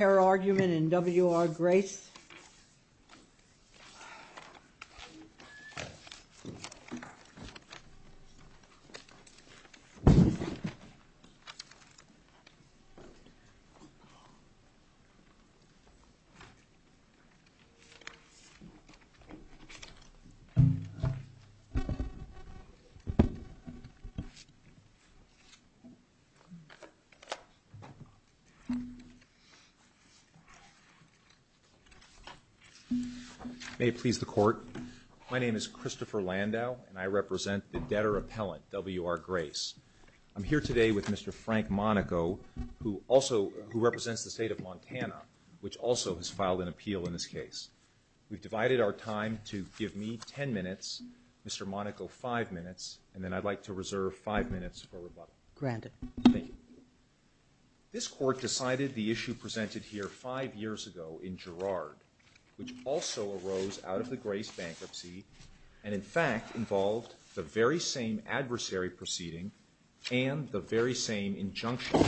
Error argument in WR Grace. Error argument in WR Grace. May it please the court. My name is Christopher Landau and I represent the debtor appellant WR Grace. I'm here today with Mr. Frank Monaco who also who represents the state of Montana which also has filed an appeal in this case. We've divided our time to give me ten minutes, Mr. Monaco five minutes, and then I'd like to reserve five minutes for rebuttal. Granted. Thank you. This court decided the issue presented here five years ago in Girard which also arose out of the Grace bankruptcy and in fact involved the very same adversary proceeding and the very same injunction.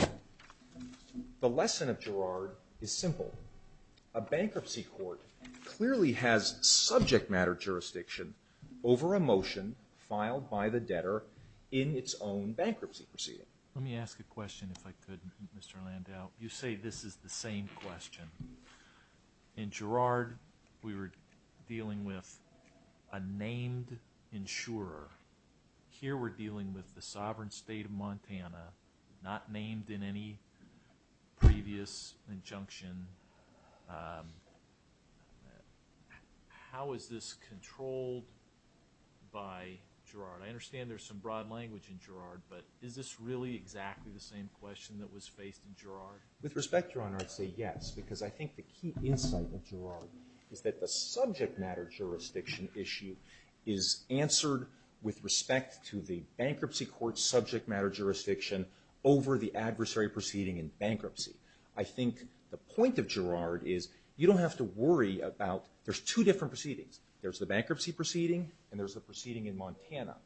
The lesson of Girard is simple. A bankruptcy court clearly has subject matter jurisdiction over a motion filed by the debtor in its own bankruptcy proceeding. Let me ask a question if I may, Mr. Landau. You say this is the same question. In Girard we were dealing with a named insurer. Here we're dealing with the sovereign state of Montana not named in any previous injunction. How is this controlled by Girard? I understand there's some broad language in Girard but is this really exactly the same question that was faced in Girard? With respect, Your Honor, I'd say yes because I think the key insight of Girard is that the subject matter jurisdiction issue is answered with respect to the bankruptcy court subject matter jurisdiction over the adversary proceeding in bankruptcy. I think the point of Girard is you don't have to worry about there's two different proceedings. There's the bankruptcy proceeding and there's the proceeding in Montana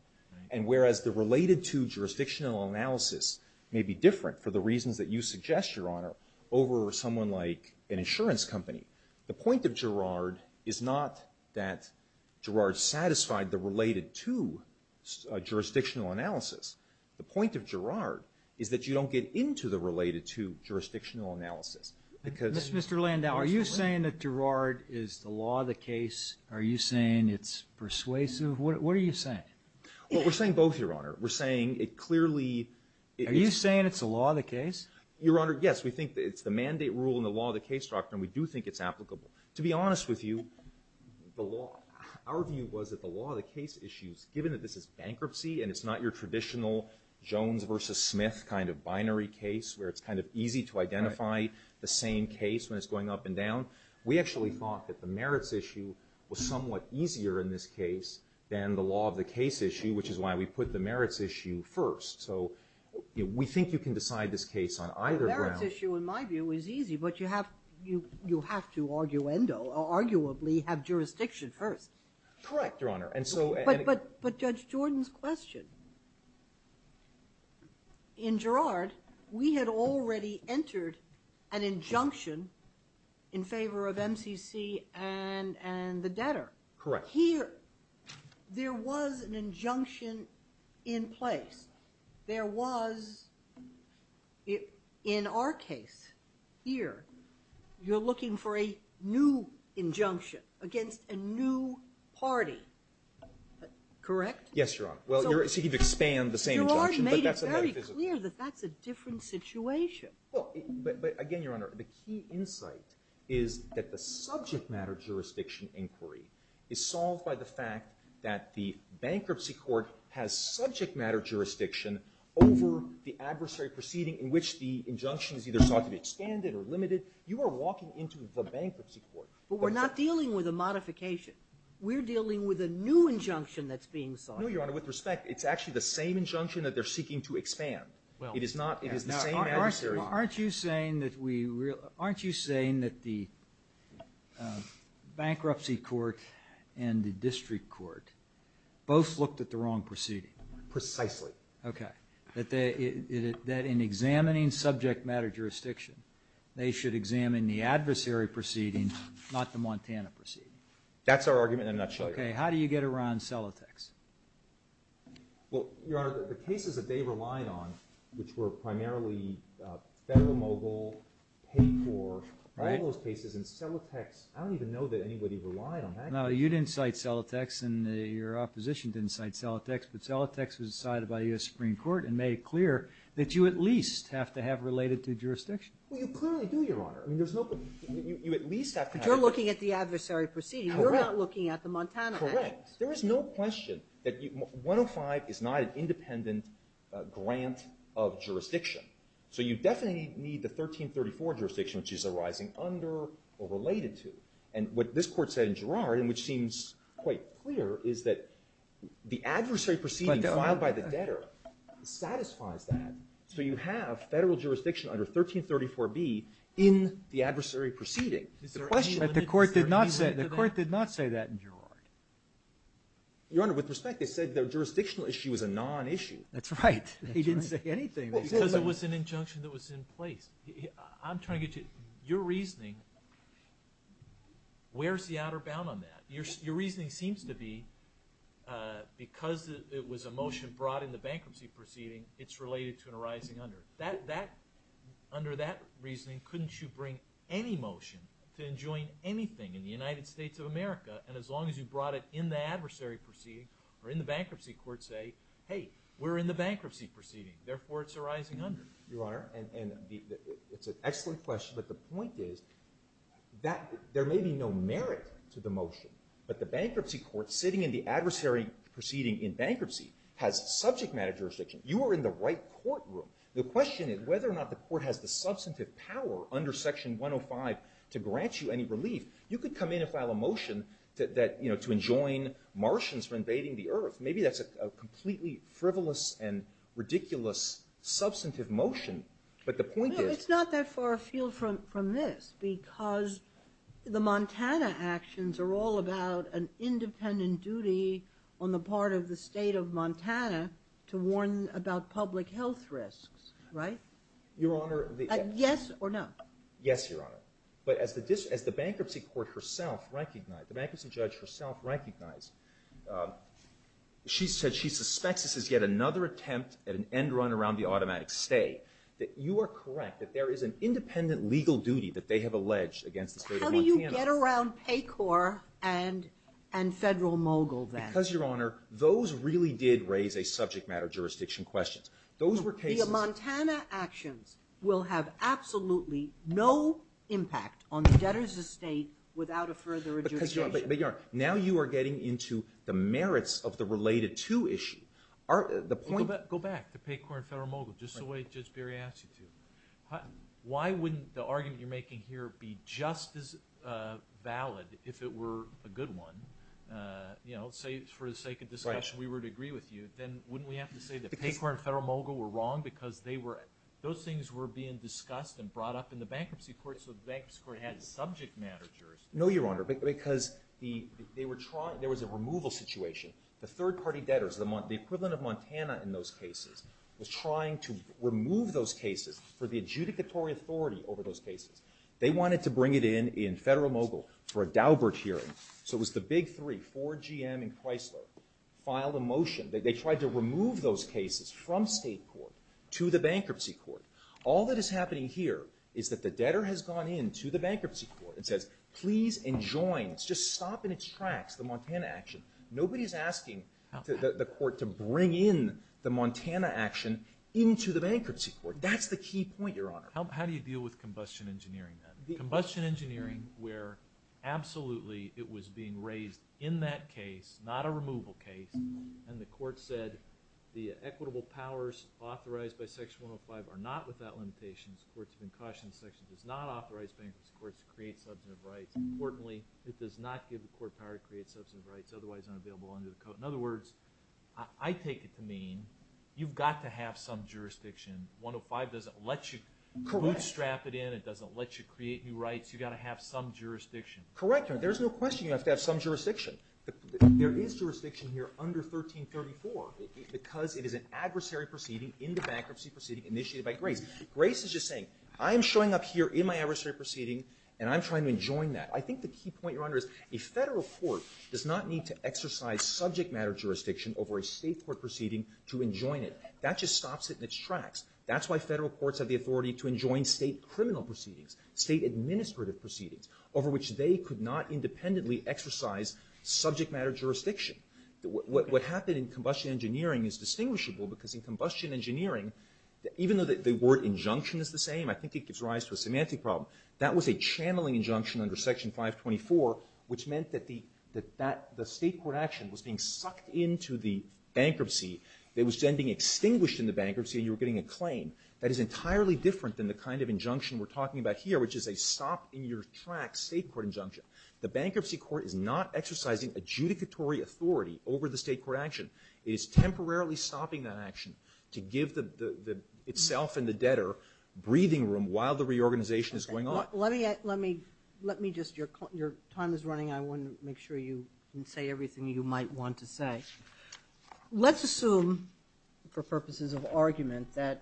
and whereas the related to jurisdictional analysis may be different for the reasons that you suggest, Your Honor, over someone like an insurance company, the point of Girard is not that Girard satisfied the related to jurisdictional analysis. The point of Girard is that you don't get into the related to jurisdictional analysis. Mr. Landau, are you saying that Girard is the law of the case? Are you saying it's persuasive? What are you saying? Well, we're saying both, Your Honor. We're saying it clearly... Are you saying it's the law of the case? Your Honor, yes. We think it's the mandate rule in the law of the case doctrine. We do think it's applicable. To be honest with you, the law, our view was that the law of the case issues, given that this is bankruptcy and it's not your traditional Jones versus Smith kind of binary case where it's kind of easy to identify the same case when it's going up and down, we actually thought that the merits issue was somewhat easier in this case than the law of the case issue, which is why we put the merits issue first. So we think you can decide this case on either ground. The merits issue, in my view, is easy, but you have to arguendo, arguably, have jurisdiction first. Correct, Your Honor, and so... But Judge Jordan's question. In Girard, we had already entered an injunction in favor of MCC and and the debtor. Correct. Here, there was an injunction in place. There was, in our case here, you're looking for a new injunction against a new party. Correct? Yes, Your Honor. Well, you're seeking to expand the same injunction, but that's a metaphysical... Girard made it very clear that that's a different situation. Well, but again, Your Honor, I think that the subject matter jurisdiction inquiry is solved by the fact that the bankruptcy court has subject matter jurisdiction over the adversary proceeding in which the injunction is either sought to be expanded or limited. You are walking into the bankruptcy court. But we're not dealing with a modification. We're dealing with a new injunction that's being sought. No, Your Honor, with respect, it's actually the same injunction that they're seeking to expand. Well, it is not. Aren't you saying that we, aren't you saying that the bankruptcy court and the district court both looked at the wrong proceeding? Precisely. Okay, that in examining subject matter jurisdiction, they should examine the adversary proceeding, not the Montana proceeding. That's our argument in a nutshell. Okay, how do you get around Celotex? Well, Your Honor, the cases that they relied on, which were primarily federal mogul, paid for, all those cases, and Celotex, I don't even know that anybody relied on that. No, you didn't cite Celotex and your opposition didn't cite Celotex, but Celotex was decided by the U.S. Supreme Court and made it clear that you at least have to have related to jurisdiction. Well, you clearly do, Your Honor. I mean, there's no, you at least have to have. But you're looking at the adversary proceeding. Correct. You're not looking at the Montana. Correct. There is no question that 105 is not an independent grant of jurisdiction. So you definitely need the 1334 jurisdiction, which is arising under or related to. And what this Court said in Girard, and which seems quite clear, is that the adversary proceeding filed by the debtor satisfies that. So you have federal jurisdiction under 1334b in the adversary proceeding. But the Court did not say that in Girard. Your Honor, with respect, it said the jurisdictional issue was a non-issue. That's right. He didn't say anything. Because it was an injunction that was in place. I'm trying to get to your reasoning. Where's the outer bound on that? Your reasoning seems to be, because it was a motion brought in the bankruptcy proceeding, it's related to an arising under. Under that reasoning, couldn't you bring any motion to enjoin anything in the United States of America? And as long as you brought it in the adversary proceeding, or in the bankruptcy court, say, hey, we're in the bankruptcy proceeding, therefore it's arising under. Your Honor, and it's an excellent question, but the point is that there may be no merit to the motion. But the bankruptcy court, sitting in the adversary proceeding in bankruptcy, has subject matter jurisdiction. You are in the right courtroom. The question is whether or not the Court has the substantive power under Section 105 to grant you any relief. You could come in and file a motion that, you know, to enjoin Martians for invading the earth. Maybe that's a completely frivolous and ridiculous substantive motion, but the point is... No, it's not that far afield from this, because the Montana actions are all about an independent duty on the part of the state of Montana to warn about public health risks, right? Your Honor... Yes or no? Yes, Your Honor. But as the bankruptcy court herself recognized, the bankruptcy judge herself recognized, she said she suspects this is yet another attempt at an end run around the automatic stay. That you are correct, that there is an independent legal duty that they have alleged against the state of Montana. How do you get around PAYCOR and Federal Mogul then? Because, Your Honor, those really did raise a subject matter jurisdiction question. Those were cases... The Montana actions will have absolutely no impact on the debtors' estate without a further adjudication. But, Your Honor, now you are getting into the merits of the related to issue. The point... Go back to PAYCOR and Federal Mogul, just the way Judge Berry asked you to. Why wouldn't the argument you're making here be just as valid if it were a good one? You know, say, for the sake of discussion, we were to agree with you, then wouldn't we have to say that PAYCOR and Federal Mogul were wrong because they were... Those things were being discussed and brought up in the bankruptcy court, so the bankruptcy court had subject matter jurisdiction. No, Your Honor, because there was a removal situation. The third-party debtors, the equivalent of Montana in those cases, was trying to remove those cases for the adjudicatory authority over those cases. They wanted to bring it in in Federal Mogul for a Daubert hearing, so it was the big three, Ford, GM, and Chrysler filed a motion. They tried to remove those cases from state court to the bankruptcy court. All that is happening here is that the debtor has gone in to the bankruptcy court and says, please and joins, just stop in its tracks, the Montana action. Nobody's asking the court to bring in the Montana action into the bankruptcy court. That's the key point, Your Honor. How do you deal with combustion engineering, then? Combustion engineering where absolutely it was being raised in that case, not a removal case, and the court said the equitable powers authorized by Section 105 are not without limitations. The Courts of Incautions Section does not authorize bankruptcy courts to create substantive rights. Importantly, it does not give the court power to create substantive rights, otherwise unavailable under the Code. In other words, I take it to mean you've got to have some jurisdiction. 105 doesn't let you bootstrap it in. It doesn't let you create new rights. You've got to have some jurisdiction. Correct, Your Honor. There's no question you have to have some jurisdiction. There is jurisdiction here under 1334 because it is an adversary proceeding in the bankruptcy proceeding initiated by Grace. Grace is just saying, I'm showing up here in my adversary proceeding, and I'm trying to enjoin that. I think the key point, Your Honor, is a federal court does not need to exercise subject matter jurisdiction over a state court proceeding to enjoin it. That just stops it in its tracks. That's why federal courts have the authority to enjoin state criminal proceedings, state administrative proceedings, over which they could not independently exercise subject matter jurisdiction. What happened in combustion engineering is distinguishable because in combustion engineering, even though the word injunction is the same, I think it gives rise to a semantic problem. That was a channeling injunction under Section 524, which meant that the state court action was being sucked into the bankruptcy. It was then being extinguished in the bankruptcy, and you were getting a claim. That is entirely different than the kind of injunction we're talking about here, which is a stop in your tracks state court injunction. The bankruptcy court is not exercising adjudicatory authority over the state court action. It is temporarily stopping that action to give the itself and the debtor breathing room while the reorganization is going on. Let me just, your time is running. I want to make sure you can say everything you might want to say. Let's assume, for purposes of argument, that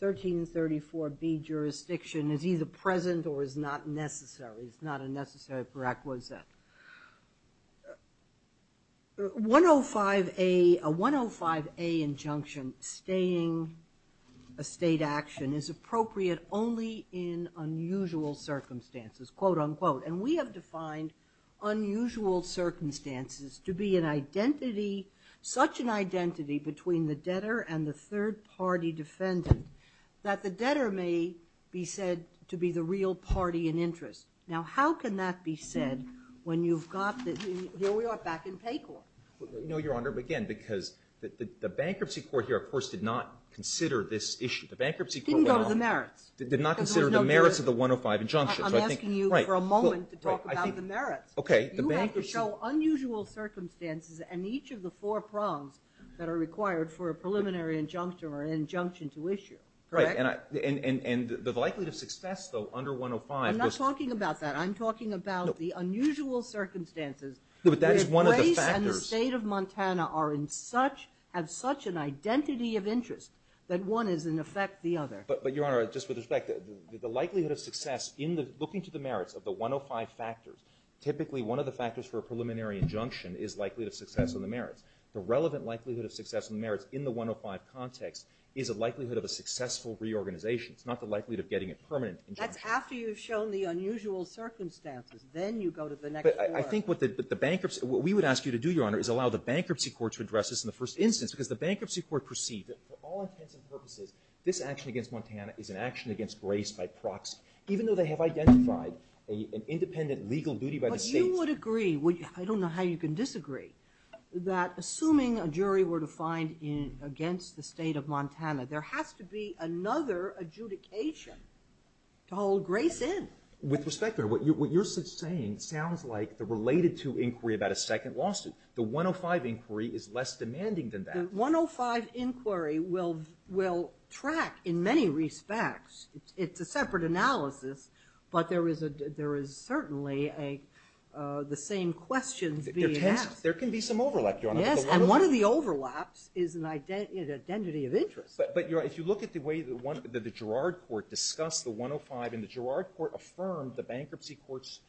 1334B jurisdiction is either present or is not necessary. It's not a necessary prerequisite. A 105A injunction, staying a state action, is appropriate only in unusual circumstances, quote unquote. We have defined unusual circumstances to be such an identity between the debtor and the third party defendant that the debtor may be said to be the real party in interest. Now, how can that be said when you've got the, here we are back in PAYCORP? No, Your Honor, again, because the bankruptcy court here, of course, did not consider this issue. The bankruptcy court went on. Didn't go to the merits. Did not consider the merits of the 105 injunction. I'm asking you for a moment to talk about the merits. Okay, the bankruptcy. You have to show unusual circumstances and each of the four prongs that are required for a preliminary injunction or an injunction to issue, correct? And the likelihood of success, though, under 105. I'm not talking about that. I'm talking about the unusual circumstances. No, but that is one of the factors. If Grace and the state of Montana are in such, have such an identity of interest, that one is in effect the other. But, Your Honor, just with respect, the likelihood of success in the, looking to the merits of the 105 factors, typically one of the factors for a preliminary injunction is likelihood of success on the merits. The relevant likelihood of success on the merits in the 105 context is a likelihood of a successful reorganization. It's not the likelihood of getting a permanent injunction. That's after you've shown the unusual circumstances. Then you go to the next prong. But I think what the bankruptcy, what we would ask you to do, Your Honor, is allow the bankruptcy court to address this in the first instance. Because the bankruptcy court perceived that for all intents and purposes, this action against Montana is an action against Grace by proxy. Even though they have identified an independent legal duty by the state. I would agree, I don't know how you can disagree, that assuming a jury were to find in, against the state of Montana, there has to be another adjudication to hold Grace in. With respect, Your Honor, what you're saying sounds like the related to inquiry about a second lawsuit. The 105 inquiry is less demanding than that. The 105 inquiry will, will track in many respects, it's a separate analysis, but there is a, there is certainly a, the same questions being asked. There can be some overlap, Your Honor. Yes, and one of the overlaps is an identity of interest. But, but Your Honor, if you look at the way that the Gerrard Court discussed the 105 and the Gerrard Court affirmed the bankruptcy court's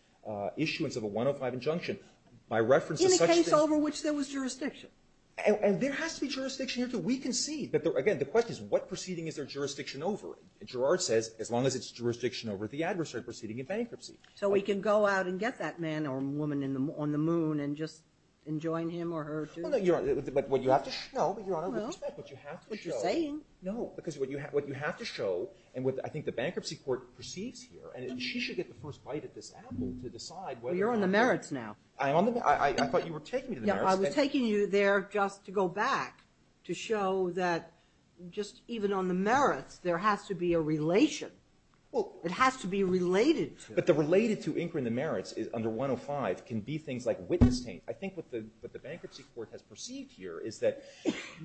issuance of a 105 injunction, by reference to such things. In the case over which there was jurisdiction. And there has to be jurisdiction here, too. We can see, but again, the question is what proceeding is there jurisdiction over? Gerrard says, as long as it's jurisdiction over the adversary proceeding in bankruptcy. So we can go out and get that man or woman on the moon and just enjoin him or her to. No, but what you have to show, but Your Honor, with respect, what you have to show. What you're saying, no. Because what you have, what you have to show, and what I think the bankruptcy court perceives here, and she should get the first bite of this apple to decide whether or not. Well, you're on the merits now. I'm on the, I thought you were taking me to the merits. I was taking you there just to go back, to show that just even on the merits, there has to be a relation. Well. It has to be related. But the related to incurring the merits is under 105, can be things like witness taint. I think what the, what the bankruptcy court has perceived here is that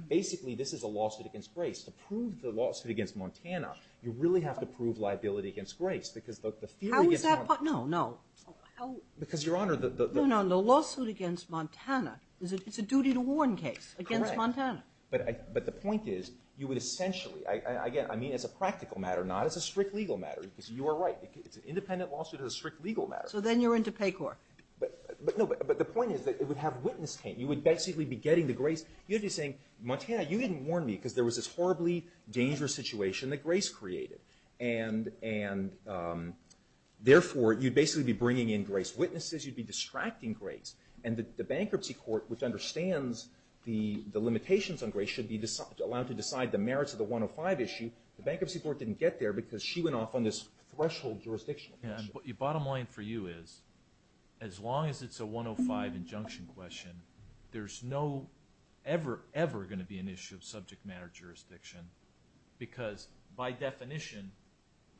basically this is a lawsuit against grace. To prove the lawsuit against Montana, you really have to prove liability against grace. Because the, the theory against. How is that part, no, no, how. Because Your Honor, the, the. No, no, the lawsuit against Montana, is it, it's a duty to warn case. Correct. Against Montana. But I, but the point is, you would essentially, I, I, again, I mean, as a practical matter, not as a strict legal matter, because you are right, it's an independent lawsuit as a strict legal matter. So then you're into pay court. But, but no, but, but the point is that it would have witness taint. You would basically be getting the grace. You'd be saying, Montana, you didn't warn me, because there was this horribly dangerous situation that grace created. And, and therefore, you'd basically be bringing in grace witnesses. You'd be distracting grace. And the, the bankruptcy court, which understands the, the limitations on grace, should be decide, allowed to decide the merits of the 105 issue. The bankruptcy court didn't get there, because she went off on this threshold jurisdiction. Yeah, but the bottom line for you is, as long as it's a 105 injunction question, there's no ever, ever going to be an issue of subject matter jurisdiction. Because by definition,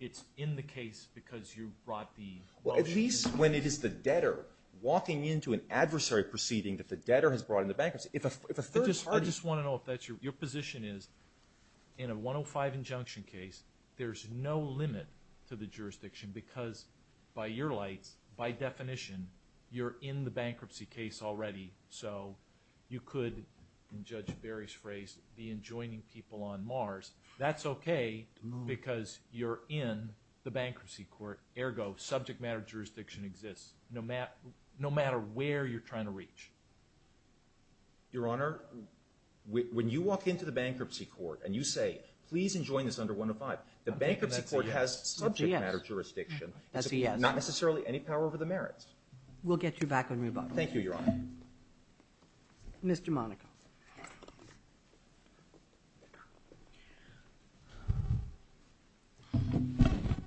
it's in the case because you brought the. Well, at least when it is the debtor walking into an adversary proceeding that the debtor has brought in the bankruptcy. If a, if a third party. I just want to know if that's your, your position is, in a 105 injunction case, there's no limit to the jurisdiction, because by your lights, by definition, you're in the bankruptcy case already, so you could, in Judge Berry's phrase, be enjoining people on Mars. That's okay, because you're in the bankruptcy court. Ergo, subject matter jurisdiction exists, no mat, no matter where you're trying to reach. Your Honor, when, when you walk into the bankruptcy court, and you say, please enjoin this under 105, the bankruptcy court has subject matter jurisdiction. That's a yes. Not necessarily any power over the merits. We'll get you back on rebuttal. Thank you, Your Honor. Mr. Monaco.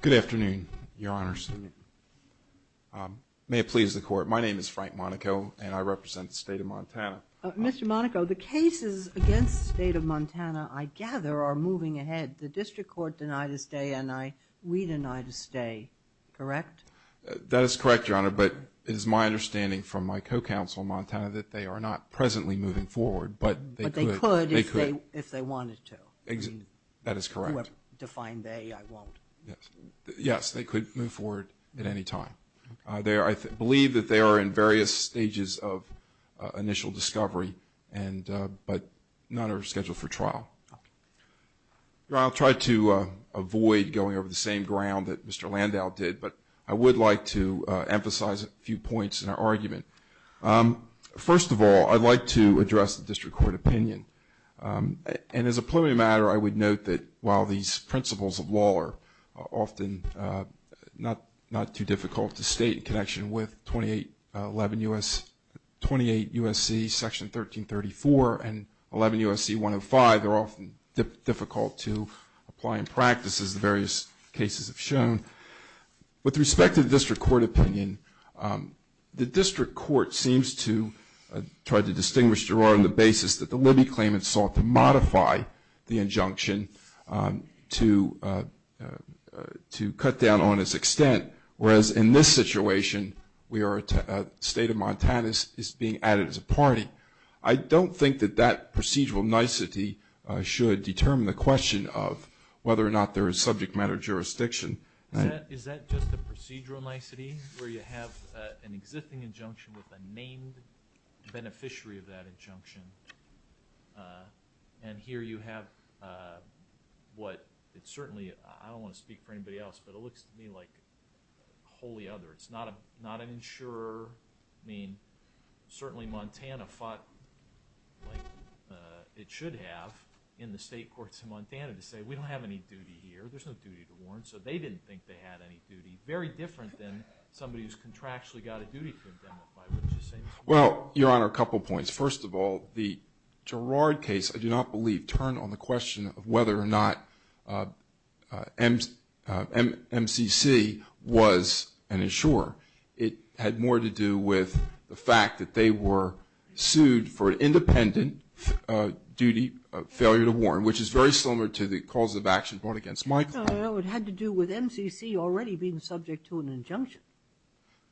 Good afternoon, Your Honors. May it please the Court, my name is Frank Monaco, and I represent the state of Montana. Mr. Monaco, the cases against the state of Montana, I gather, are moving ahead. The district court denied a stay, and I, we denied a stay, correct? That is correct, Your Honor, but it is my understanding from my co-counsel in Montana that they are not presently moving forward, but they could. But they could if they, if they wanted to. Exit, that is correct. Define they, I won't. Yes, yes, they could move forward at any time. They are, I believe that they are in various stages of initial discovery and, but none are scheduled for trial. I'll try to avoid going over the same ground that Mr. Landau did, but I would like to emphasize a few points in our argument. First of all, I'd like to address the district court opinion. And as a preliminary matter, I would note that while these principles of law are often not, not too difficult to state in connection with 28, 11 U.S. 28 U.S.C. Section 1334 and 11 U.S.C. 105 are often difficult to apply in practice as the various cases have shown. With respect to the district court opinion, the district court seems to try to distinguish, Your Honor, on the basis that the Libby claimants sought to cut down on its extent, whereas in this situation, we are, State of Montana is being added as a party. I don't think that that procedural nicety should determine the question of whether or not there is subject matter jurisdiction. Is that just a procedural nicety, where you have an existing injunction with a named beneficiary of that injunction? And here you have what, it certainly, I don't want to speak for anybody else, but it looks to me like wholly other. It's not a, not an insurer. I mean, certainly Montana fought like it should have in the state courts in Montana to say, we don't have any duty here. There's no duty to warrant. So they didn't think they had any duty. Very different than somebody who's contractually got a duty to indemnify, which is saying. Well, Your Honor, a couple points. First of all, the Girard case, I do not believe, turned on the question of whether or not MCC was an insurer. It had more to do with the fact that they were sued for an independent duty of failure to warrant, which is very similar to the cause of action brought against Michael. No, no, no, it had to do with MCC already being subject to an injunction.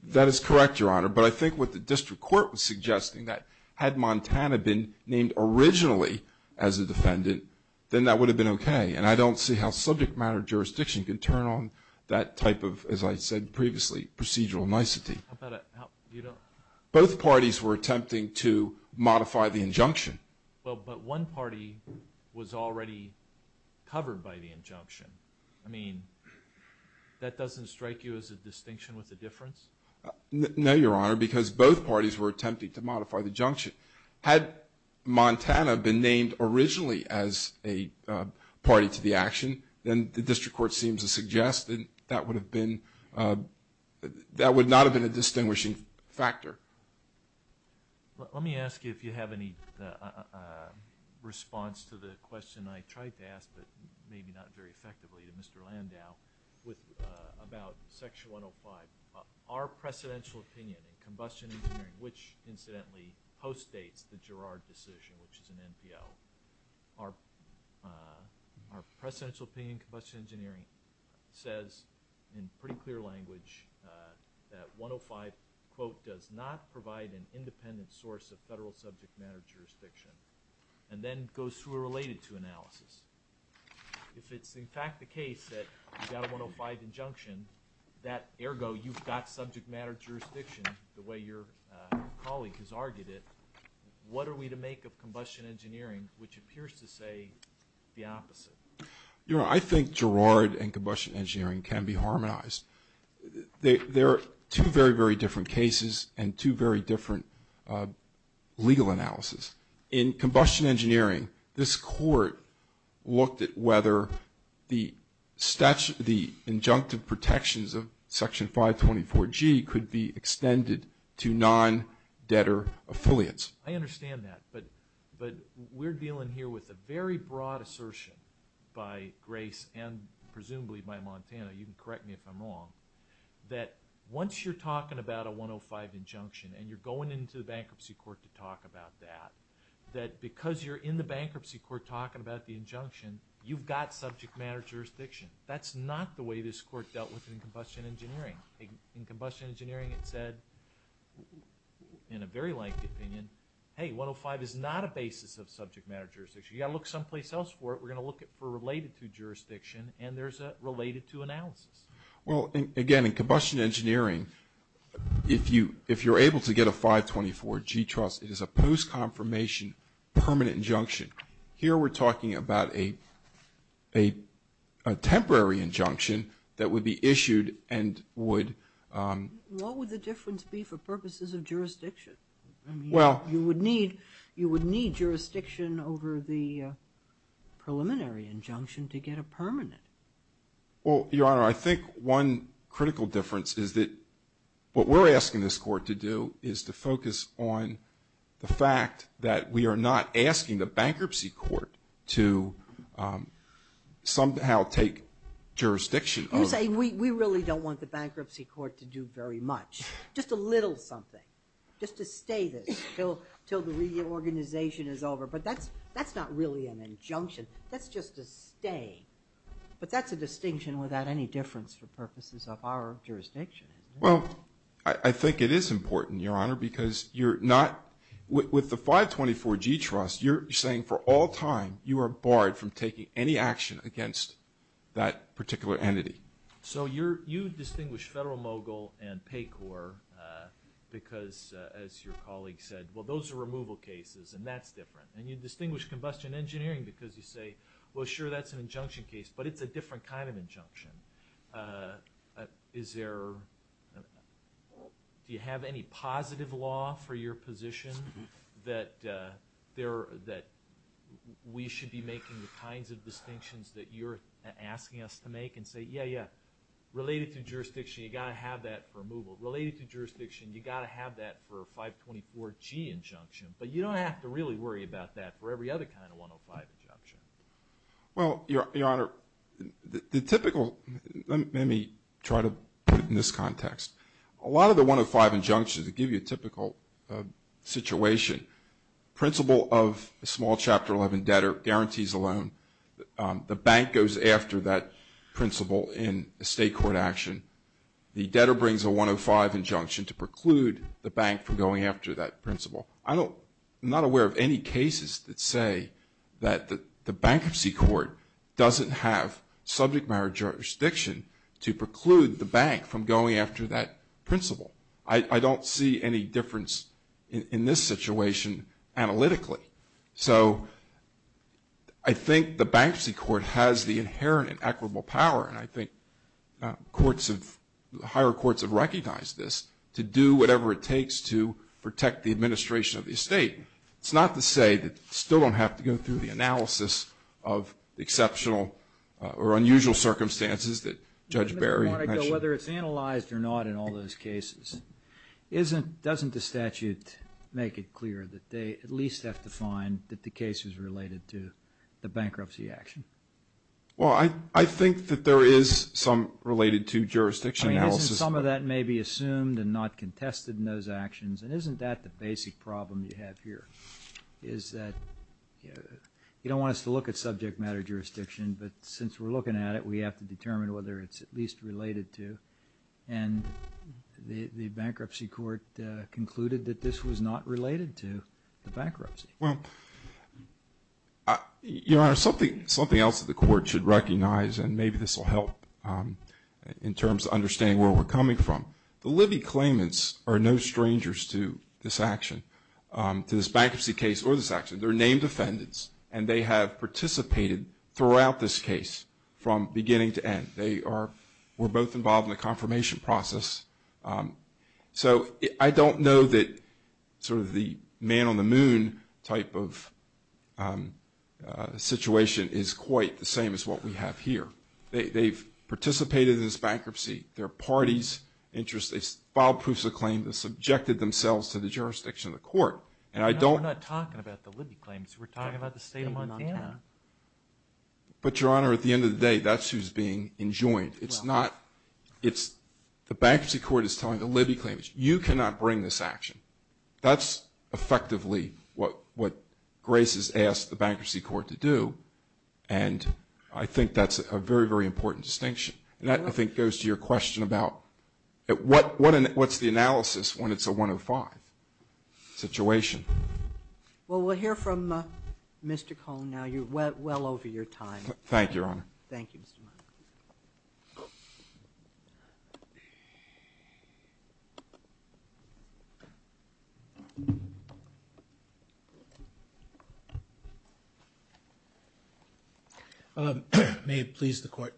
That is correct, Your Honor. But I think what the district court was suggesting, that had Montana been named originally as a defendant, then that would have been okay. And I don't see how subject matter jurisdiction can turn on that type of, as I said previously, procedural nicety. Both parties were attempting to modify the injunction. Well, but one party was already covered by the injunction. I mean, that doesn't strike you as a distinction with a difference? No, Your Honor, because both parties were attempting to modify the injunction. Had Montana been named originally as a party to the action, then the district court seems to suggest that would not have been a distinguishing factor. Let me ask you if you have any response to the question I tried to ask, but maybe not very effectively, to Mr. Landau about Section 105. Our precedential opinion in combustion engineering, which incidentally post-dates the Girard decision, which is an NPL. Our precedential opinion in combustion engineering says, in pretty clear language, that 105, quote, does not provide an independent source of federal subject matter jurisdiction. And then goes through a related to analysis. If it's in fact the case that you got a 105 injunction, that ergo you've got subject matter jurisdiction the way your colleague has argued it. What are we to make of combustion engineering, which appears to say the opposite? Your Honor, I think Girard and combustion engineering can be harmonized. They're two very, very different cases and two very different legal analysis. In combustion engineering, this court looked at whether the injunctive protections of Section 524G could be extended to non-debtor affiliates. I understand that, but we're dealing here with a very broad assertion by Grace and presumably by Montana, you can correct me if I'm wrong, that once you're talking about a 105 injunction and you're going into the bankruptcy court to talk about that, that because you're in the bankruptcy court talking about the injunction, you've got subject matter jurisdiction. That's not the way this court dealt with it in combustion engineering. In combustion engineering, it said in a very lengthy opinion, hey, 105 is not a basis of subject matter jurisdiction. You've got to look someplace else for it. We're going to look for related to jurisdiction and there's a related to analysis. Well, again, in combustion engineering, if you're able to get a 524G trust, it is a post-confirmation permanent injunction. Here, we're talking about a temporary injunction that would be issued and would What would the difference be for purposes of jurisdiction? Well, you would need jurisdiction over the preliminary injunction to get a permanent. Well, Your Honor, I think one critical difference is that what we're asking this bankruptcy court to somehow take jurisdiction over. You're saying we really don't want the bankruptcy court to do very much, just a little something, just to stay this till the reorganization is over. But that's not really an injunction. That's just a stay. But that's a distinction without any difference for purposes of our jurisdiction. Well, I think it is important, Your Honor, because you're not, with the 524G trust, you're saying for all time, you are barred from taking any action against that particular entity. So you distinguish Federal, Mogul, and Pay Corps because, as your colleague said, well, those are removal cases and that's different. And you distinguish combustion engineering because you say, well, sure, that's an injunction case, but it's a different kind of injunction. Do you have any positive law for your position that we should be making the kinds of distinctions that you're asking us to make and say, yeah, yeah, related to jurisdiction, you've got to have that for removal. Related to jurisdiction, you've got to have that for a 524G injunction. But you don't have to really worry about that for every other kind of 105 injunction. Well, Your Honor, the typical, let me try to put it in this context. A lot of the 105 injunctions give you a typical situation. Principle of a small Chapter 11 debtor guarantees a loan. The bank goes after that principle in a state court action. The debtor brings a 105 injunction to preclude the bank from going after that principle. I'm not aware of any cases that say that the bankruptcy court doesn't have subject matter jurisdiction to preclude the bank from going after that principle. I don't see any difference in this situation analytically. So, I think the bankruptcy court has the inherent and equitable power, and I think courts have, higher courts have recognized this, to do whatever it takes to protect the administration of the estate. It's not to say that you still don't have to go through the analysis of the exceptional or unusual circumstances that Judge Barry mentioned. Whether it's analyzed or not in all those cases, doesn't the statute make it clear that they at least have to find that the case is related to the bankruptcy action? Well, I think that there is some related to jurisdiction analysis. Some of that may be assumed and not contested in those actions, and isn't that the basic problem you have here? Is that, you know, you don't want us to look at subject matter jurisdiction, but since we're looking at it, we have to determine whether it's at least related to, and the bankruptcy court concluded that this was not related to the bankruptcy. Well, Your Honor, something else that the court should recognize, and maybe this will help in terms of understanding where we're coming from. The Libby claimants are no strangers to this action, to this bankruptcy case or this action. They're named defendants, and they have participated throughout this case from beginning to end. They are, were both involved in the confirmation process. So I don't know that sort of the man on the moon type of situation is quite the same as what we have here. They've participated in this bankruptcy. Their party's interest, they filed proofs of claim. They subjected themselves to the jurisdiction of the court, and I don't. We're not talking about the Libby claimants. We're talking about the state of Montana. But Your Honor, at the end of the day, that's who's being enjoined. It's not, it's the bankruptcy court is telling the Libby claimants, you cannot bring this action. That's effectively what Grace has asked the bankruptcy court to do. And I think that's a very, very important distinction. And that, I think, goes to your question about what's the analysis when it's a 105 situation? Well, we'll hear from Mr. Cohn now. You're well over your time. Thank you, Your Honor. Thank you, Mr. Meyers. May it please the court.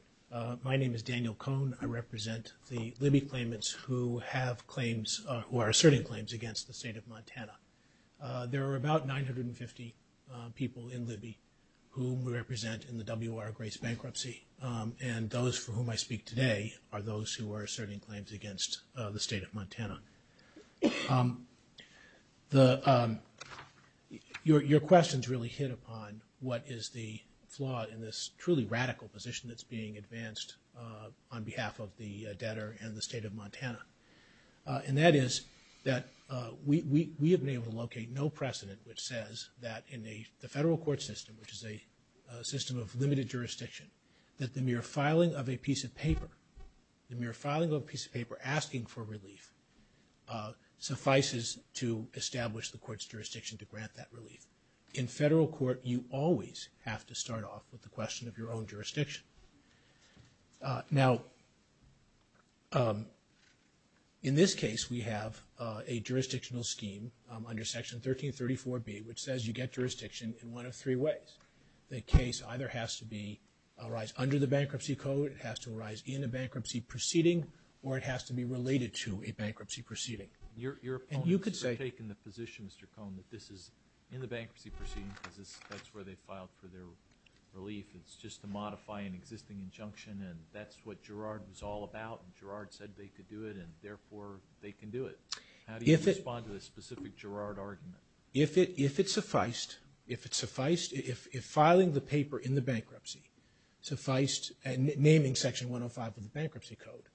My name is Daniel Cohn. I represent the Libby claimants who have claims, who are asserting claims against the state of Montana. There are about 950 people in Libby whom we represent in the W.R. Grace bankruptcy. And those for whom I speak today are those who are asserting claims against the state of Montana. Your questions really hit upon what is the flaw in this truly radical position that's being advanced on behalf of the debtor and the state of Montana. And that is that we have been able to locate no precedent which says that in the federal court system, which is a system of limited jurisdiction, that the mere filing of a piece of paper, the mere filing of a piece of paper asking for relief suffices to establish the court's jurisdiction to grant that relief. In federal court, you always have to start off with the question of your own jurisdiction. Now, in this case, we have a jurisdictional scheme under Section 1334B, which says you get jurisdiction in one of three ways. The case either has to arise under the Bankruptcy Code, it has to arise in a bankruptcy proceeding, or it has to be related to a bankruptcy proceeding. And you could say- Your opponents have taken the position, Mr. Cohn, that this is in the bankruptcy proceeding because that's where they filed for their relief. It's just to modify an existing injunction. And that's what Girard was all about. And Girard said they could do it. And therefore, they can do it. How do you respond to this specific Girard argument? If it sufficed, if it sufficed, if filing the paper in the bankruptcy sufficed, and naming Section 105 of the Bankruptcy Code,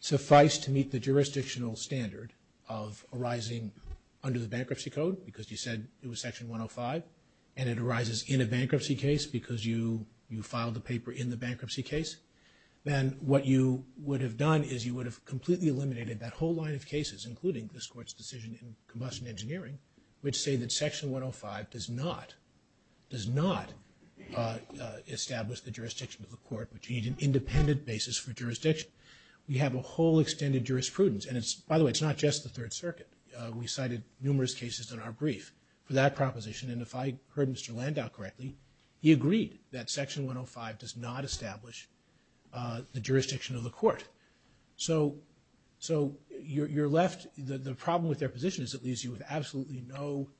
sufficed to meet the jurisdictional standard of arising under the Bankruptcy Code, because you said it was Section 105, and it arises in a bankruptcy case because you filed the paper in the bankruptcy case, then what you would have done is you would have completely eliminated that whole line of cases, including this Court's decision in Combustion Engineering, which say that Section 105 does not, does not establish the jurisdiction of the Court, but you need an independent basis for jurisdiction. We have a whole extended jurisprudence. And it's- by the way, it's not just the Third Circuit. We cited numerous cases in our brief for that proposition. And if I heard Mr. Landau correctly, he agreed that Section 105 does not establish the jurisdiction of the Court. So you're left- the problem with their position is it leaves you with absolutely no-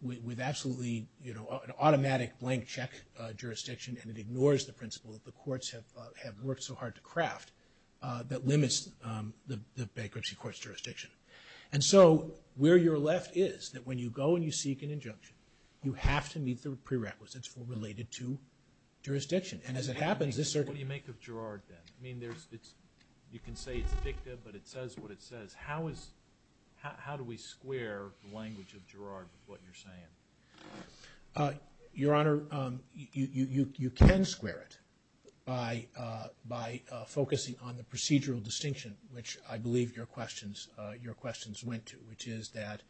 with absolutely, you know, an automatic blank check jurisdiction, and it ignores the principle that the courts have worked so hard to craft that limits the bankruptcy court's jurisdiction. And so where you're left is that when you go and you seek an injunction, you have to meet the prerequisites for- related to jurisdiction. And as it happens, this- What do you make of Girard then? I mean, there's- it's- you can say it's dicta, but it says what it says. How is- how do we square the language of Girard with what you're saying? Your Honor, you can square it by focusing on the procedural distinction, which I believe your questions- your questions went to, which is that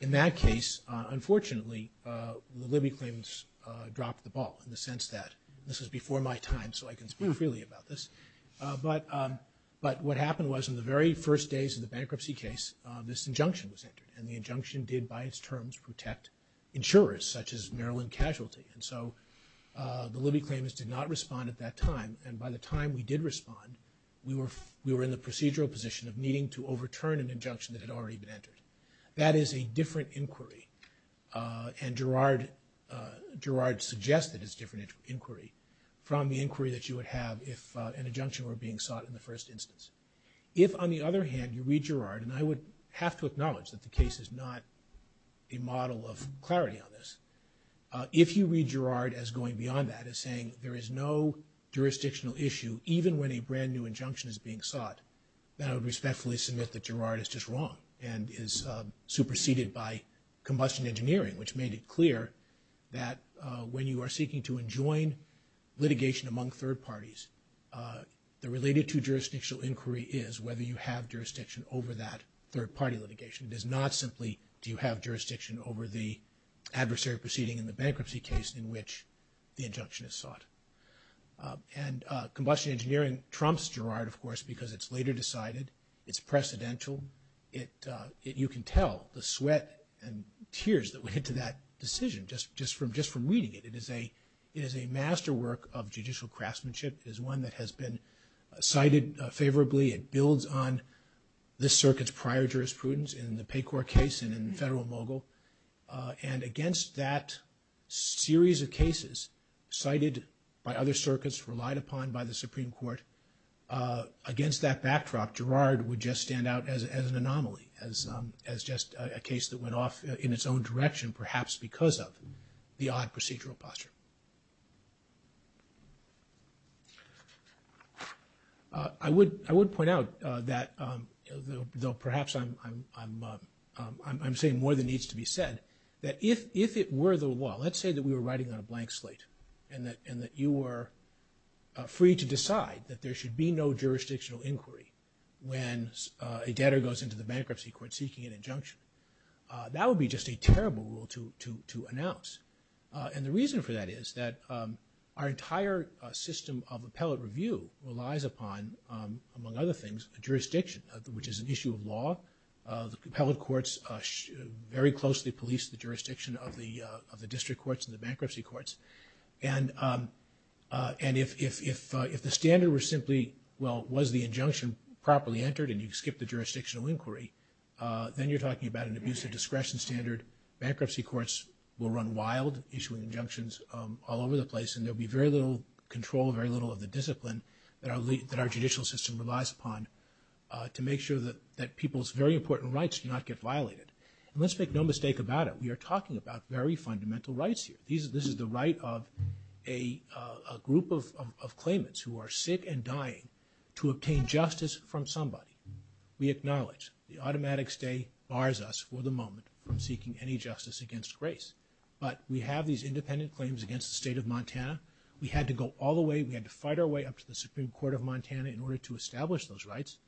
in that case, unfortunately, the Libby claims dropped the ball in the sense that this is before my time, so I can speak freely about this, but what happened was in the very first days of the bankruptcy case, this injunction was entered, and the injunction did, by its terms, protect insurers, such as Maryland Casualty. And so the Libby claims did not respond at that time, and by the time we did respond, we were in the procedural position of needing to overturn an injunction that had already been entered. That is a different inquiry, and Girard suggested it's a different inquiry from the inquiry that you would have if an injunction were being sought in the first instance. If, on the other hand, you read Girard, and I would have to acknowledge that the case is not a model of clarity on this. If you read Girard as going beyond that, as saying there is no jurisdictional issue, even when a brand new injunction is being sought, then I would respectfully submit that Girard is just wrong and is superseded by combustion engineering, which made it clear that when you are seeking to enjoin litigation among third parties, the related to jurisdictional inquiry is whether you have jurisdiction over that third party litigation. It is not simply do you have jurisdiction over the adversary proceeding in the bankruptcy case in which the injunction is sought. And combustion engineering trumps Girard, of course, because it's later decided. It's precedential. You can tell the sweat and tears that went into that decision just from reading it. It is a masterwork of judicial craftsmanship. It is one that has been cited favorably. It builds on the circuit's prior jurisprudence in the Paycourt case and in the federal mogul. And against that series of cases cited by other circuits relied upon by the Supreme Court, against that backdrop, Girard would just stand out as an anomaly, as just a case that went off in its own direction, perhaps because of the odd procedural posture. I would point out that, though perhaps I'm saying more than needs to be said, that if it were the law, let's say that we were writing on a blank slate and that you were free to decide that there should be no jurisdictional inquiry when a debtor goes into the bankruptcy court seeking an injunction, that would be just a terrible rule to announce. And the reason for that is that our entire system of appellate review relies upon, among other things, a jurisdiction, which is an issue of law. The appellate courts very closely police the jurisdiction of the district courts and the bankruptcy courts. And if the standard were simply, well, was the injunction properly entered and you skip the jurisdictional inquiry, then you're talking about an abuse of discretion standard. Bankruptcy courts will run wild, issuing injunctions all over the place. And there'll be very little control, very little of the discipline that our judicial system relies upon to make sure that people's very important rights do not get violated. And let's make no mistake about it. We are talking about very fundamental rights here. This is the right of a group of claimants who are sick and dying to obtain justice from somebody. We acknowledge the automatic stay bars us for the moment from seeking any justice against grace. But we have these independent claims against the state of Montana. We had to go all the way, we had to fight our way up to the Supreme Court of Montana in order to establish those rights.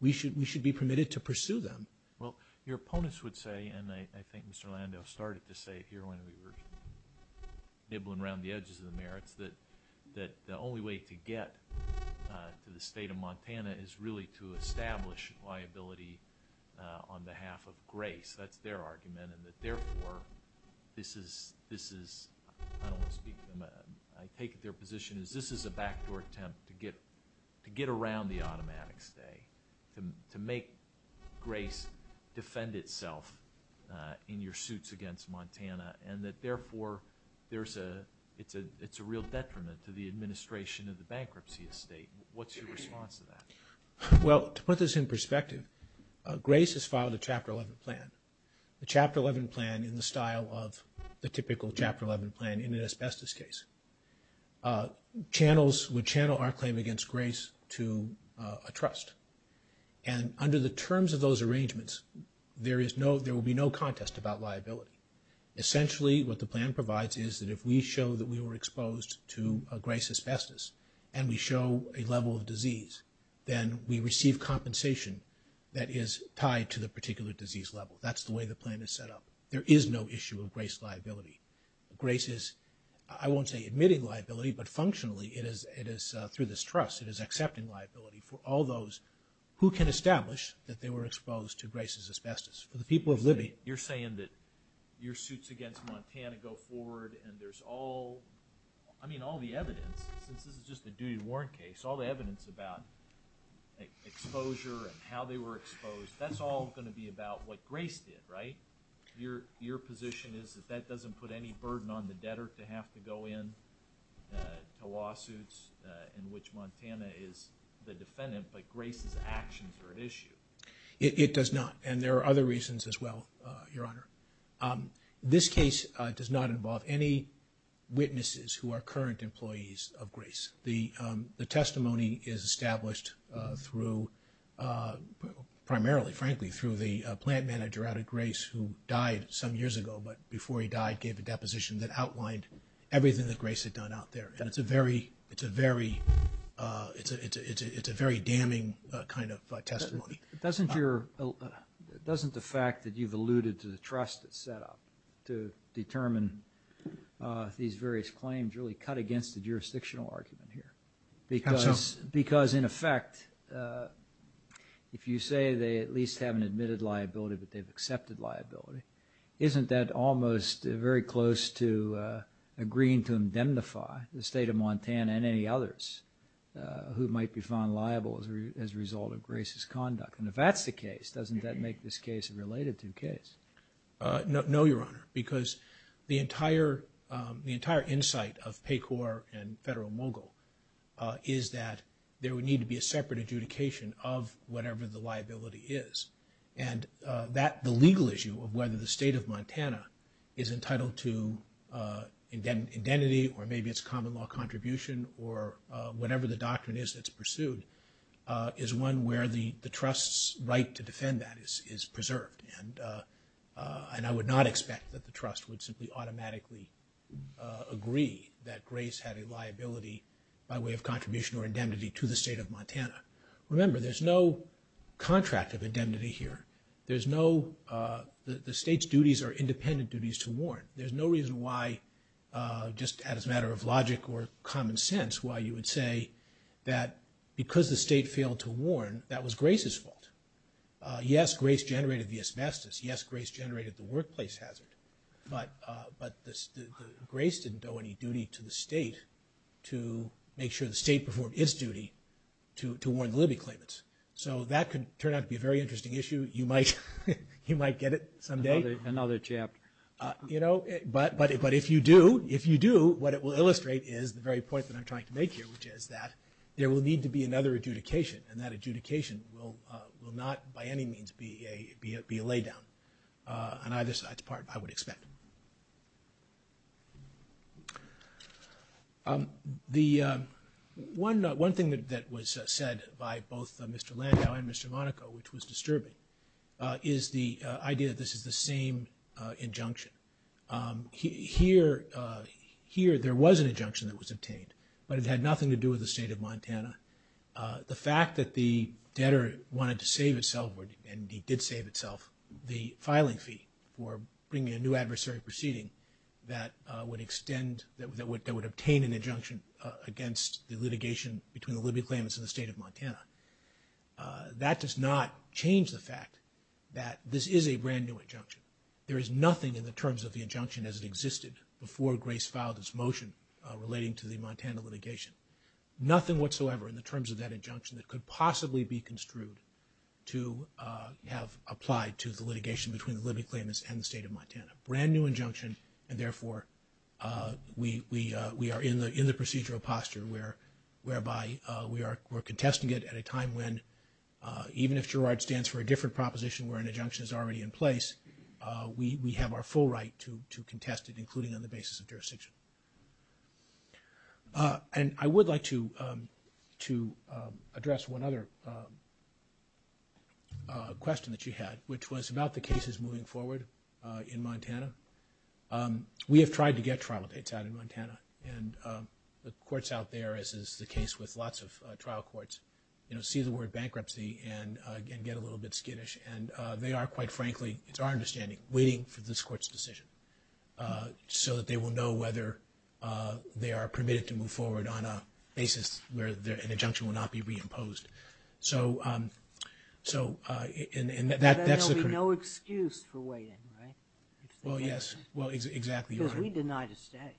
We should be permitted to pursue them. Well, your opponents would say, and I think Mr. Landau started to say here when we were nibbling around the edges of the merits, that the only way to get to the state of Montana is really to establish liability on behalf of grace. That's their argument. And that therefore, this is, I don't want to speak to them. I take it their position is this is a backdoor attempt to get around the automatic stay, to make grace defend itself in your suits against Montana. And that therefore, it's a real detriment to the administration of the bankruptcy estate. What's your response to that? Well, to put this in perspective, grace has filed a Chapter 11 plan, a Chapter 11 plan in the style of the typical Chapter 11 plan in an asbestos case. Channels would channel our claim against grace to a trust. And under the terms of those arrangements, there is no, there will be no contest about liability. Essentially, what the plan provides is that if we show that we were exposed to grace asbestos and we show a level of disease, then we receive compensation that is tied to the particular disease level. That's the way the plan is set up. There is no issue of grace liability. Grace is, I won't say admitting liability, but functionally it is, it is through this trust, it is accepting liability for all those who can establish that they were exposed to grace asbestos. For the people of Libby. You're saying that your suits against Montana go forward and there's all, I mean, all the evidence, since this is just a duty warrant case, all the evidence about exposure and how they were exposed, that's all going to be about what grace did, right? Your, your position is that that doesn't put any burden on the debtor to have to go in to lawsuits in which Montana is the defendant, but grace's actions are at issue. It does not. And there are other reasons as well, Your Honor. Um, this case, uh, does not involve any witnesses who are current employees of grace. The, um, the testimony is established, uh, through, uh, primarily, frankly, through the plant manager out of grace who died some years ago, but before he died, gave a deposition that outlined everything that grace had done out there. And it's a very, it's a very, uh, it's a, it's a, it's a, it's a very damning kind of testimony. Doesn't your, doesn't the fact that you've alluded to the trust that's set up to determine, uh, these various claims really cut against the jurisdictional argument here? Because, because in effect, uh, if you say they at least haven't admitted liability, but they've accepted liability, isn't that almost very close to, uh, agreeing to indemnify the state of Montana and any others, uh, who might be found liable as a result of grace's conduct? And if that's the case, doesn't that make this case a related to case? Uh, no, no, Your Honor, because the entire, um, the entire insight of PACOR and Federal Mogul, uh, is that there would need to be a separate adjudication of whatever the liability is. And, uh, that, the legal issue of whether the state of Montana is entitled to, uh, indemnity or maybe it's a common law contribution or, uh, whatever the doctrine is that's pursued, uh, is one where the, the trust's right to defend that is, is preserved. And, uh, uh, and I would not expect that the trust would simply automatically, uh, agree that grace had a liability by way of contribution or indemnity to the state of Montana. Remember, there's no contract of indemnity here. There's no, uh, the, the state's duties are independent duties to warn. There's no reason why, uh, just as a matter of logic or common sense, why you would say that because the state failed to warn, that was grace's fault. Uh, yes, grace generated the asbestos. Yes, grace generated the workplace hazard. But, uh, but the, the grace didn't owe any duty to the state to make sure the state performed its duty to, to warn the Libby claimants. So that could turn out to be a very interesting issue. You might, you might get it someday. Another, another chapter. Uh, you know, but, but if you do, if you do, what it will illustrate is the very point that I'm trying to make here, which is that there will need to be another adjudication and that adjudication will, uh, will not by any means be a, be a, be a lay down, uh, on either side's part, I would expect. Um, the, um, one, uh, one thing that, that was, uh, said by both, uh, Mr. Landau and Mr. Monaco, which was disturbing, uh, is the, uh, idea that this is the same, uh, injunction. Um, here, uh, here there was an injunction that was obtained, but it had nothing to do with the state of Montana. Uh, the fact that the debtor wanted to save itself, and he did save itself, the filing fee for bringing a new adversary proceeding that, uh, would extend, that would, that would obtain an injunction, uh, against the litigation between the Libby claimants and the state of Montana. Uh, that does not change the fact that this is a brand new injunction. There is nothing in the terms of the injunction as it existed before Grace filed this motion, uh, relating to the Montana litigation. Nothing whatsoever in the terms of that injunction that could possibly be construed to, uh, have applied to the litigation between the Libby claimants and the state of Montana. Brand new injunction, and therefore, uh, we, we, uh, we are in the, in the procedural posture where, whereby, uh, we are, we're contesting it at a time when, uh, even if Gerard stands for a different proposition where an injunction is already in place, uh, we, we have our full right to, to contest it, including on the basis of jurisdiction. Uh, and I would like to, um, to, um, address one other, um, uh, question that you had, which was about the cases moving forward, uh, in Montana. Um, we have tried to get trial dates out in Montana, and, um, the courts out there, as is the case with lots of, uh, trial courts, you know, see the word bankruptcy and, uh, get a little bit skittish, and, uh, they are, quite frankly, it's our understanding, waiting for this court's decision, uh, so that they will know whether, uh, they are permitted to move forward on a basis where their, an injunction will not be reimposed. So, um, so, uh, and, and that, that's the. There will be no excuse for waiting, right? Well, yes. Well, exactly. Because we denied a stay.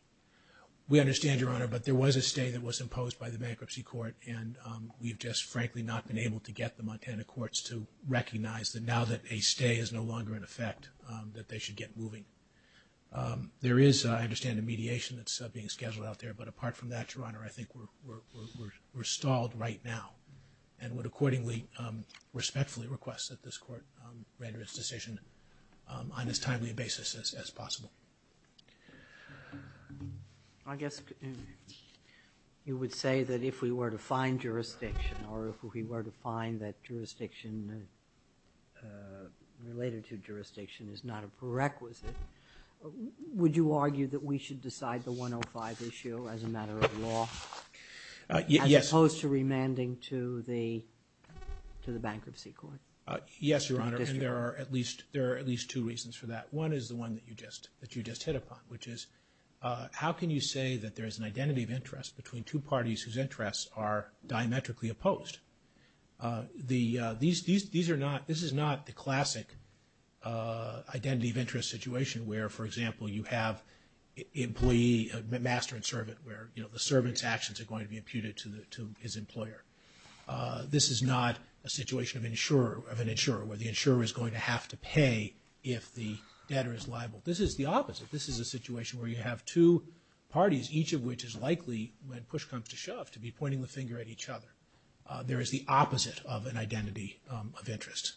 We understand, Your Honor, but there was a stay that was imposed by the bankruptcy court, and, um, we've just, frankly, not been able to get the Montana courts to recognize that now that a stay is no longer in effect, um, that they should get moving. Um, there is, I understand, a mediation that's, uh, being scheduled out there, but apart from that, Your Honor, I think we're, we're, we're, we're stalled right now, and would accordingly, um, respectfully request that this court, um, render its decision, um, on as timely a basis as, as possible. Um, I guess, um, you would say that if we were to find jurisdiction, or if we were to find that jurisdiction, uh, related to jurisdiction is not a prerequisite, would you argue that we should decide the 105 issue as a matter of law? Uh, yes. As opposed to remanding to the, to the bankruptcy court? Uh, yes, Your Honor, and there are at least, there are at least two reasons for that. One is the one that you just, that you just hit upon, which is, uh, how can you say that there is an identity of interest between two parties whose interests are diametrically opposed? Uh, the, uh, these, these, these are not, this is not the classic, uh, identity of interest situation where, for example, you have employee, master and servant, where, you know, the servant's actions are going to be imputed to the, to his employer. Uh, this is not a situation of insurer, of an insurer, where the insurer is going to have to pay if the debtor is liable. This is the opposite. This is a situation where you have two parties, each of which is likely, when push comes to shove, to be pointing the finger at each other. Uh, there is the opposite of an identity, um, of interest.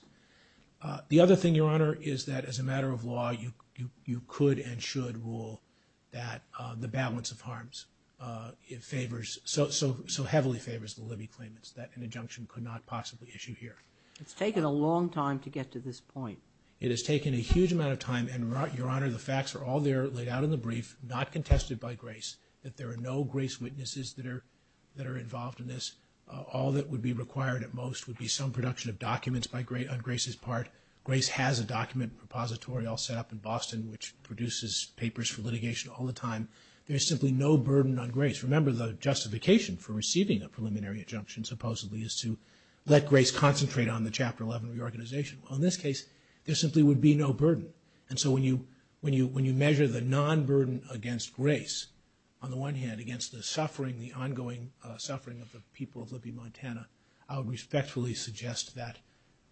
Uh, the other thing, Your Honor, is that as a matter of law, you, you, you could and should rule that, uh, the balance of harms, uh, favors, so, so, so heavily favors the Libby claimants, that an injunction could not possibly issue here. It's taken a long time to get to this point. It has taken a huge amount of time and, Your Honor, the facts are all there, laid out in the brief, not contested by Grace, that there are no Grace witnesses that are, that are involved in this. All that would be required at most would be some production of documents by Grace, on Grace's part. Grace has a document repository all set up in Boston, which produces papers for litigation all the time. There is simply no burden on Grace. Remember, the justification for receiving a preliminary injunction, supposedly, is to let Grace concentrate on the Chapter 11 reorganization. Well, in this case, there simply would be no burden. And so when you, when you, when you measure the non-burden against Grace, on the one hand, against the suffering, the ongoing, uh, suffering of the people of Libby, Montana, I would respectfully suggest that,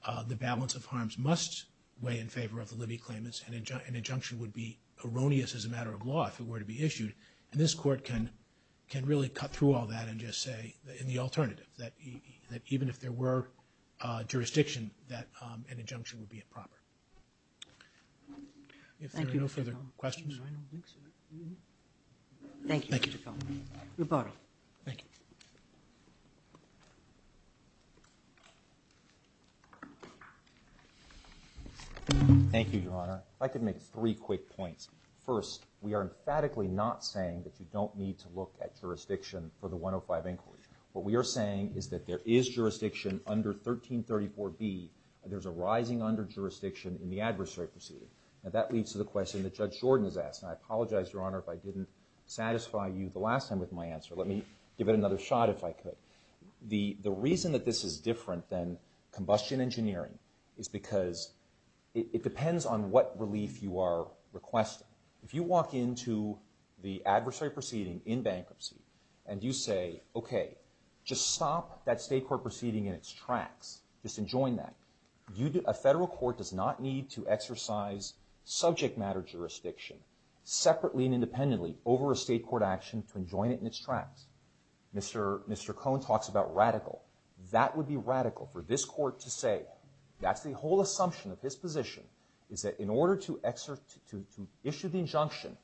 uh, the balance of harms must weigh in favor of the Libby claimants. An injunction, an injunction would be erroneous as a matter of law if it were to be issued. And this Court can, can really cut through all that and just say, in the alternative, that, that even if there were, uh, jurisdiction, that, um, an injunction would be improper. If there are no further questions. Thank you, Your Honor. I can make three quick points. First, we are emphatically not saying that you don't need to look at jurisdiction for the 105 Inquiry. What we are saying is that there is jurisdiction under 1334B, and there's a rising under jurisdiction in the adversary proceeding. And that leads to the question that Judge Jordan has asked. And I apologize, Your Honor, if I didn't satisfy you the last time with my answer. Let me give it another shot if I could. The, the reason that this is different than combustion engineering is because it, it depends on what relief you are requesting. If you walk into the adversary proceeding in bankruptcy and you say, okay, just stop that state court proceeding in its tracks. Just enjoin that. You do, a federal court does not need to exercise subject matter jurisdiction separately and independently over a state court action to enjoin it in its tracks. Mr., Mr. Cohn talks about radical. That would be radical for this court to say. That's the whole assumption of his position, is that in order to exert, to, to issue the injunction,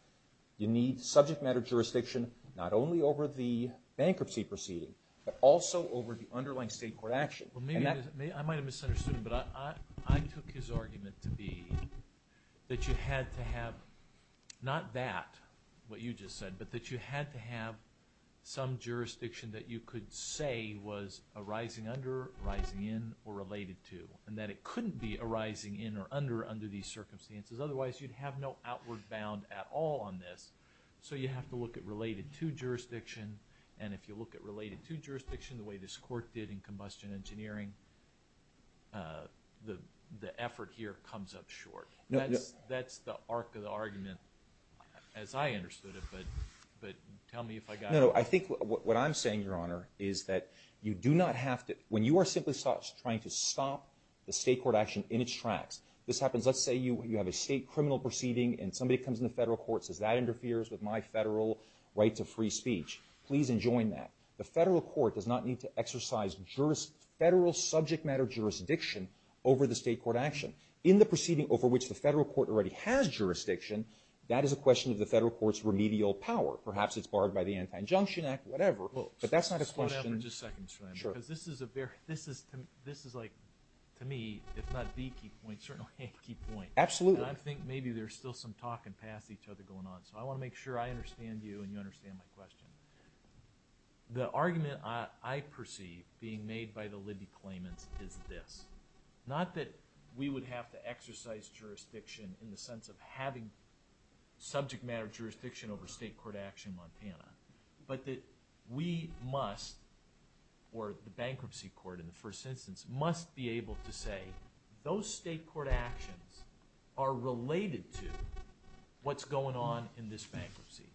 you need subject matter jurisdiction not only over the bankruptcy proceeding, but also over the underlying state court action. Well, maybe, I might have misunderstood him, but I, I, I took his argument to be that you had to have, not that what you just said, but that you had to have some jurisdiction that you could say was arising under, rising in, or related to, and that it couldn't be arising in or under, under these circumstances. Otherwise, you'd have no outward bound at all on this. So you have to look at related to jurisdiction, and if you look at related to jurisdiction the way this court did in combustion engineering, the, the effort here comes up short. No, no. That's the arc of the argument as I understood it, but, but tell me if I got it. No, no, I think what, what I'm saying, Your Honor, is that you do not have to, when you are simply trying to stop the state court action in its tracks, this happens, let's say you, you have a state criminal proceeding and somebody comes in the federal courts says that interferes with my federal right to free speech. Please enjoin that. The federal court does not need to exercise juris, federal subject matter jurisdiction over the state court action. In the proceeding over which the federal court already has jurisdiction, that is a question of the federal court's remedial power. Perhaps it's barred by the Anti-Injunction Act, whatever, but that's not a question. Just a second, Your Honor, because this is a very, this is, this is like, to me, if not the key point, certainly a key point. Absolutely. I think maybe there's still some talking past each other going on, so I want to make sure I understand you and you understand my question. The argument I, I perceive being made by the Liddy claimants is this, not that we would have to exercise jurisdiction in the sense of having subject matter jurisdiction over state court action in Montana, but that we must, or the bankruptcy court in the first instance, must be able to say those state court actions are related to what's going on in this bankruptcy.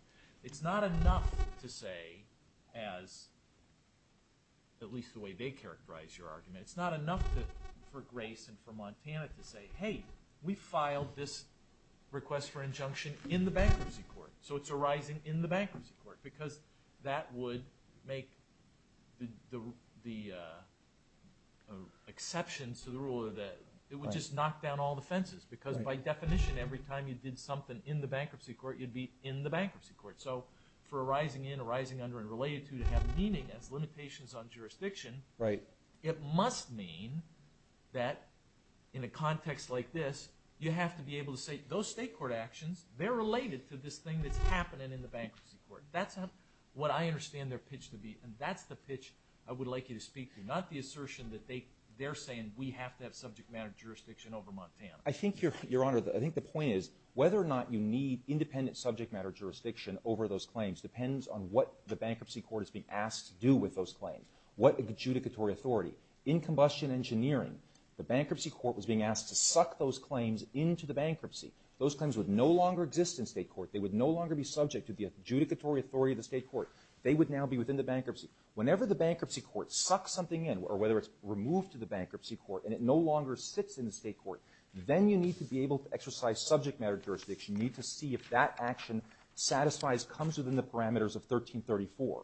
It's not enough to say as, at least the way they characterize your argument, it's not enough to, for Grace and for Montana to say, hey, we filed this request for injunction in the bankruptcy court. So it's arising in the bankruptcy court, because that would make the, the exceptions to the rule of the, it would just knock down all the fences, because by definition, every time you did something in the bankruptcy court, you'd be in the bankruptcy court. So for arising in, arising under, and related to, to have meaning as limitations on jurisdiction, it must mean that in a context like this, you have to be able to say those state court actions, they're related to this thing that's happening in the bankruptcy court. That's how, what I understand their pitch to be, and that's the pitch I would like you to speak to. Not the assertion that they, they're saying we have to have subject matter jurisdiction over Montana. I think your, your honor, I think the point is, whether or not you need independent subject matter jurisdiction over those claims depends on what the bankruptcy court is being asked to do with those claims. What adjudicatory authority? In combustion engineering, the bankruptcy court was being asked to suck those claims into the bankruptcy. Those claims would no longer exist in state court. They would no longer be subject to the adjudicatory authority of the state court. They would now be within the bankruptcy. Whenever the bankruptcy court sucks something in, or whether it's removed to the bankruptcy court, and it no longer sits in the state court, then you need to be able to exercise subject matter jurisdiction. You need to see if that action satisfies, comes within the parameters of 1334.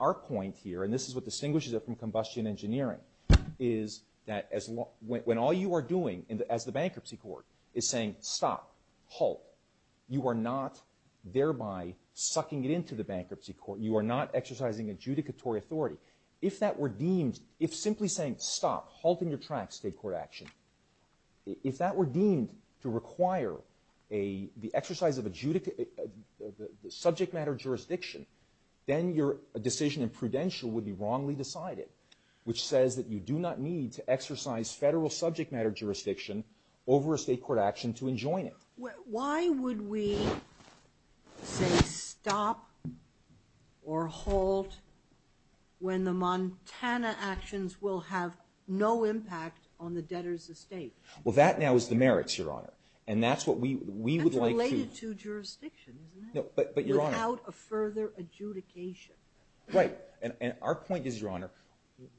Our point here, and this is what distinguishes it from combustion engineering, is that as when all you are doing as the bankruptcy court is saying stop, halt, you are not thereby sucking it into the bankruptcy court. You are not exercising adjudicatory authority. If that were deemed, if simply saying stop, halting your track state court action, if that were deemed to require a, the exercise of adjudicate, the subject matter jurisdiction, then your decision in prudential would be wrongly decided, which says that you do not need to exercise federal subject matter jurisdiction over a state court action to enjoin it. Why would we say stop or halt when the Montana actions will have no impact on the debtor's estate? Well, that now is the merits, Your Honor. And that's what we, we would like to. That's related to jurisdiction, isn't it? No, but, but Your Honor. Without a further adjudication. Right. And our point is, Your Honor,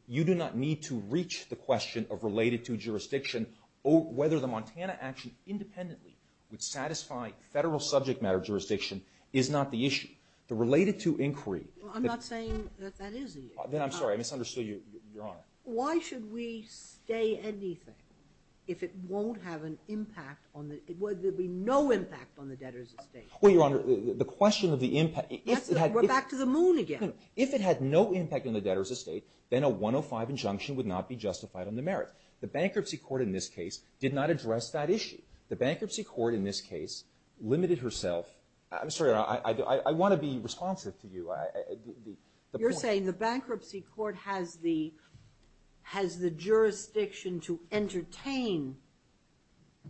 you do not need to reach the question of related to jurisdiction or whether the Montana action independently would satisfy federal subject matter jurisdiction is not the issue. The related to inquiry. I'm not saying that that is the issue. Then I'm sorry, I misunderstood you, Your Honor. Why should we stay anything if it won't have an impact on the, there'd be no impact on the debtor's estate? Well, Your Honor, the question of the impact. We're back to the moon again. If it had no impact on the debtor's estate, then a 105 injunction would not be justified on the merits. The bankruptcy court in this case did not address that issue. The bankruptcy court in this case limited herself. I'm sorry, I want to be responsive to you. You're saying the bankruptcy court has the, has the jurisdiction to entertain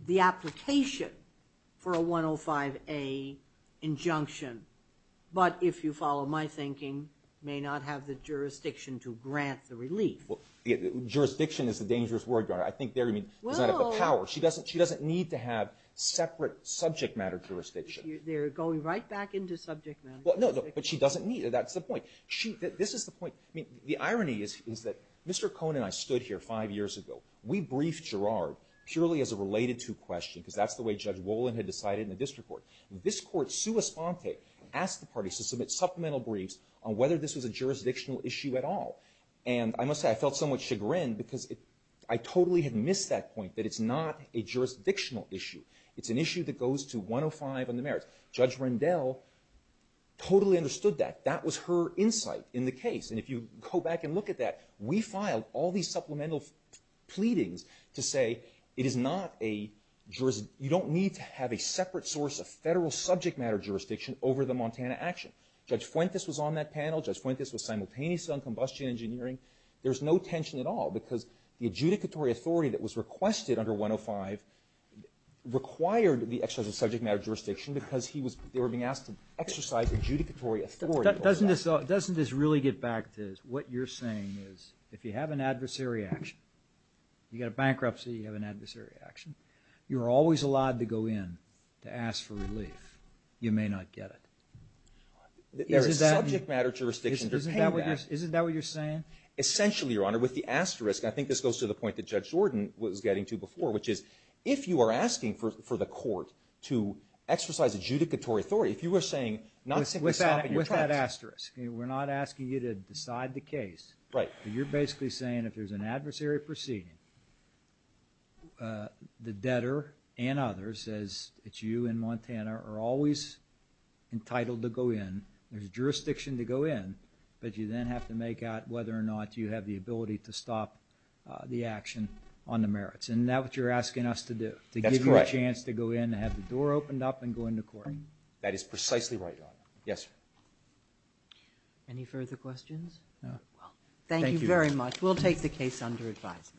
the application for a 105A injunction, but if you follow my thinking, may not have the jurisdiction to grant the relief. Jurisdiction is a dangerous word, Your Honor. I think there, I mean, does not have the power. She doesn't, she doesn't need to have separate subject matter jurisdiction. They're going right back into subject matter. Well, no, no, but she doesn't need it. That's the point. She, this is the point. I mean, the irony is, is that Mr. Cohn and I stood here five years ago. We briefed Girard purely as a related to question, because that's the way Judge Wolin had decided in the district court. This court, sua sponte, asked the parties to submit supplemental briefs on whether this was a jurisdictional issue at all. And I must say, I felt somewhat chagrined because it, I totally had missed that point, that it's not a jurisdictional issue. It's an issue that goes to 105 on the merits. Judge Rendell totally understood that. That was her insight in the case. And if you go back and look at that, we filed all these supplemental pleadings to say it is not a, you don't need to have a separate source of federal subject matter jurisdiction over the Montana action. Judge Fuentes was on that panel. Judge Fuentes was simultaneously on combustion engineering. There's no tension at all because the adjudicatory authority that was requested under 105 required the exercise of subject matter jurisdiction because he was, they were being asked to exercise adjudicatory authority. Doesn't this, doesn't this really get back to what you're saying is if you have an adversary action, you've got a bankruptcy, you have an adversary action, you're always allowed to go in to ask for relief. You may not get it. There is subject matter jurisdiction. Isn't that what you're saying? Essentially, Your Honor, with the asterisk, I think this goes to the point that Judge Jordan was getting to before, which is if you are asking for the court to exercise adjudicatory authority, if you were saying not simply stopping your trial. With that asterisk. We're not asking you to decide the case. Right. You're basically saying if there's an adversary proceeding, the debtor and others, as it's you and Montana, are always entitled to go in. There's jurisdiction to go in, but you then have to make out whether or not you have the ability to stop the action on the merits. Isn't that what you're asking us to do? That's correct. To give you a chance to go in and have the door opened up and go into court. That is precisely right, Your Honor. Yes, sir. Any further questions? Thank you very much. We'll take the case under advisement.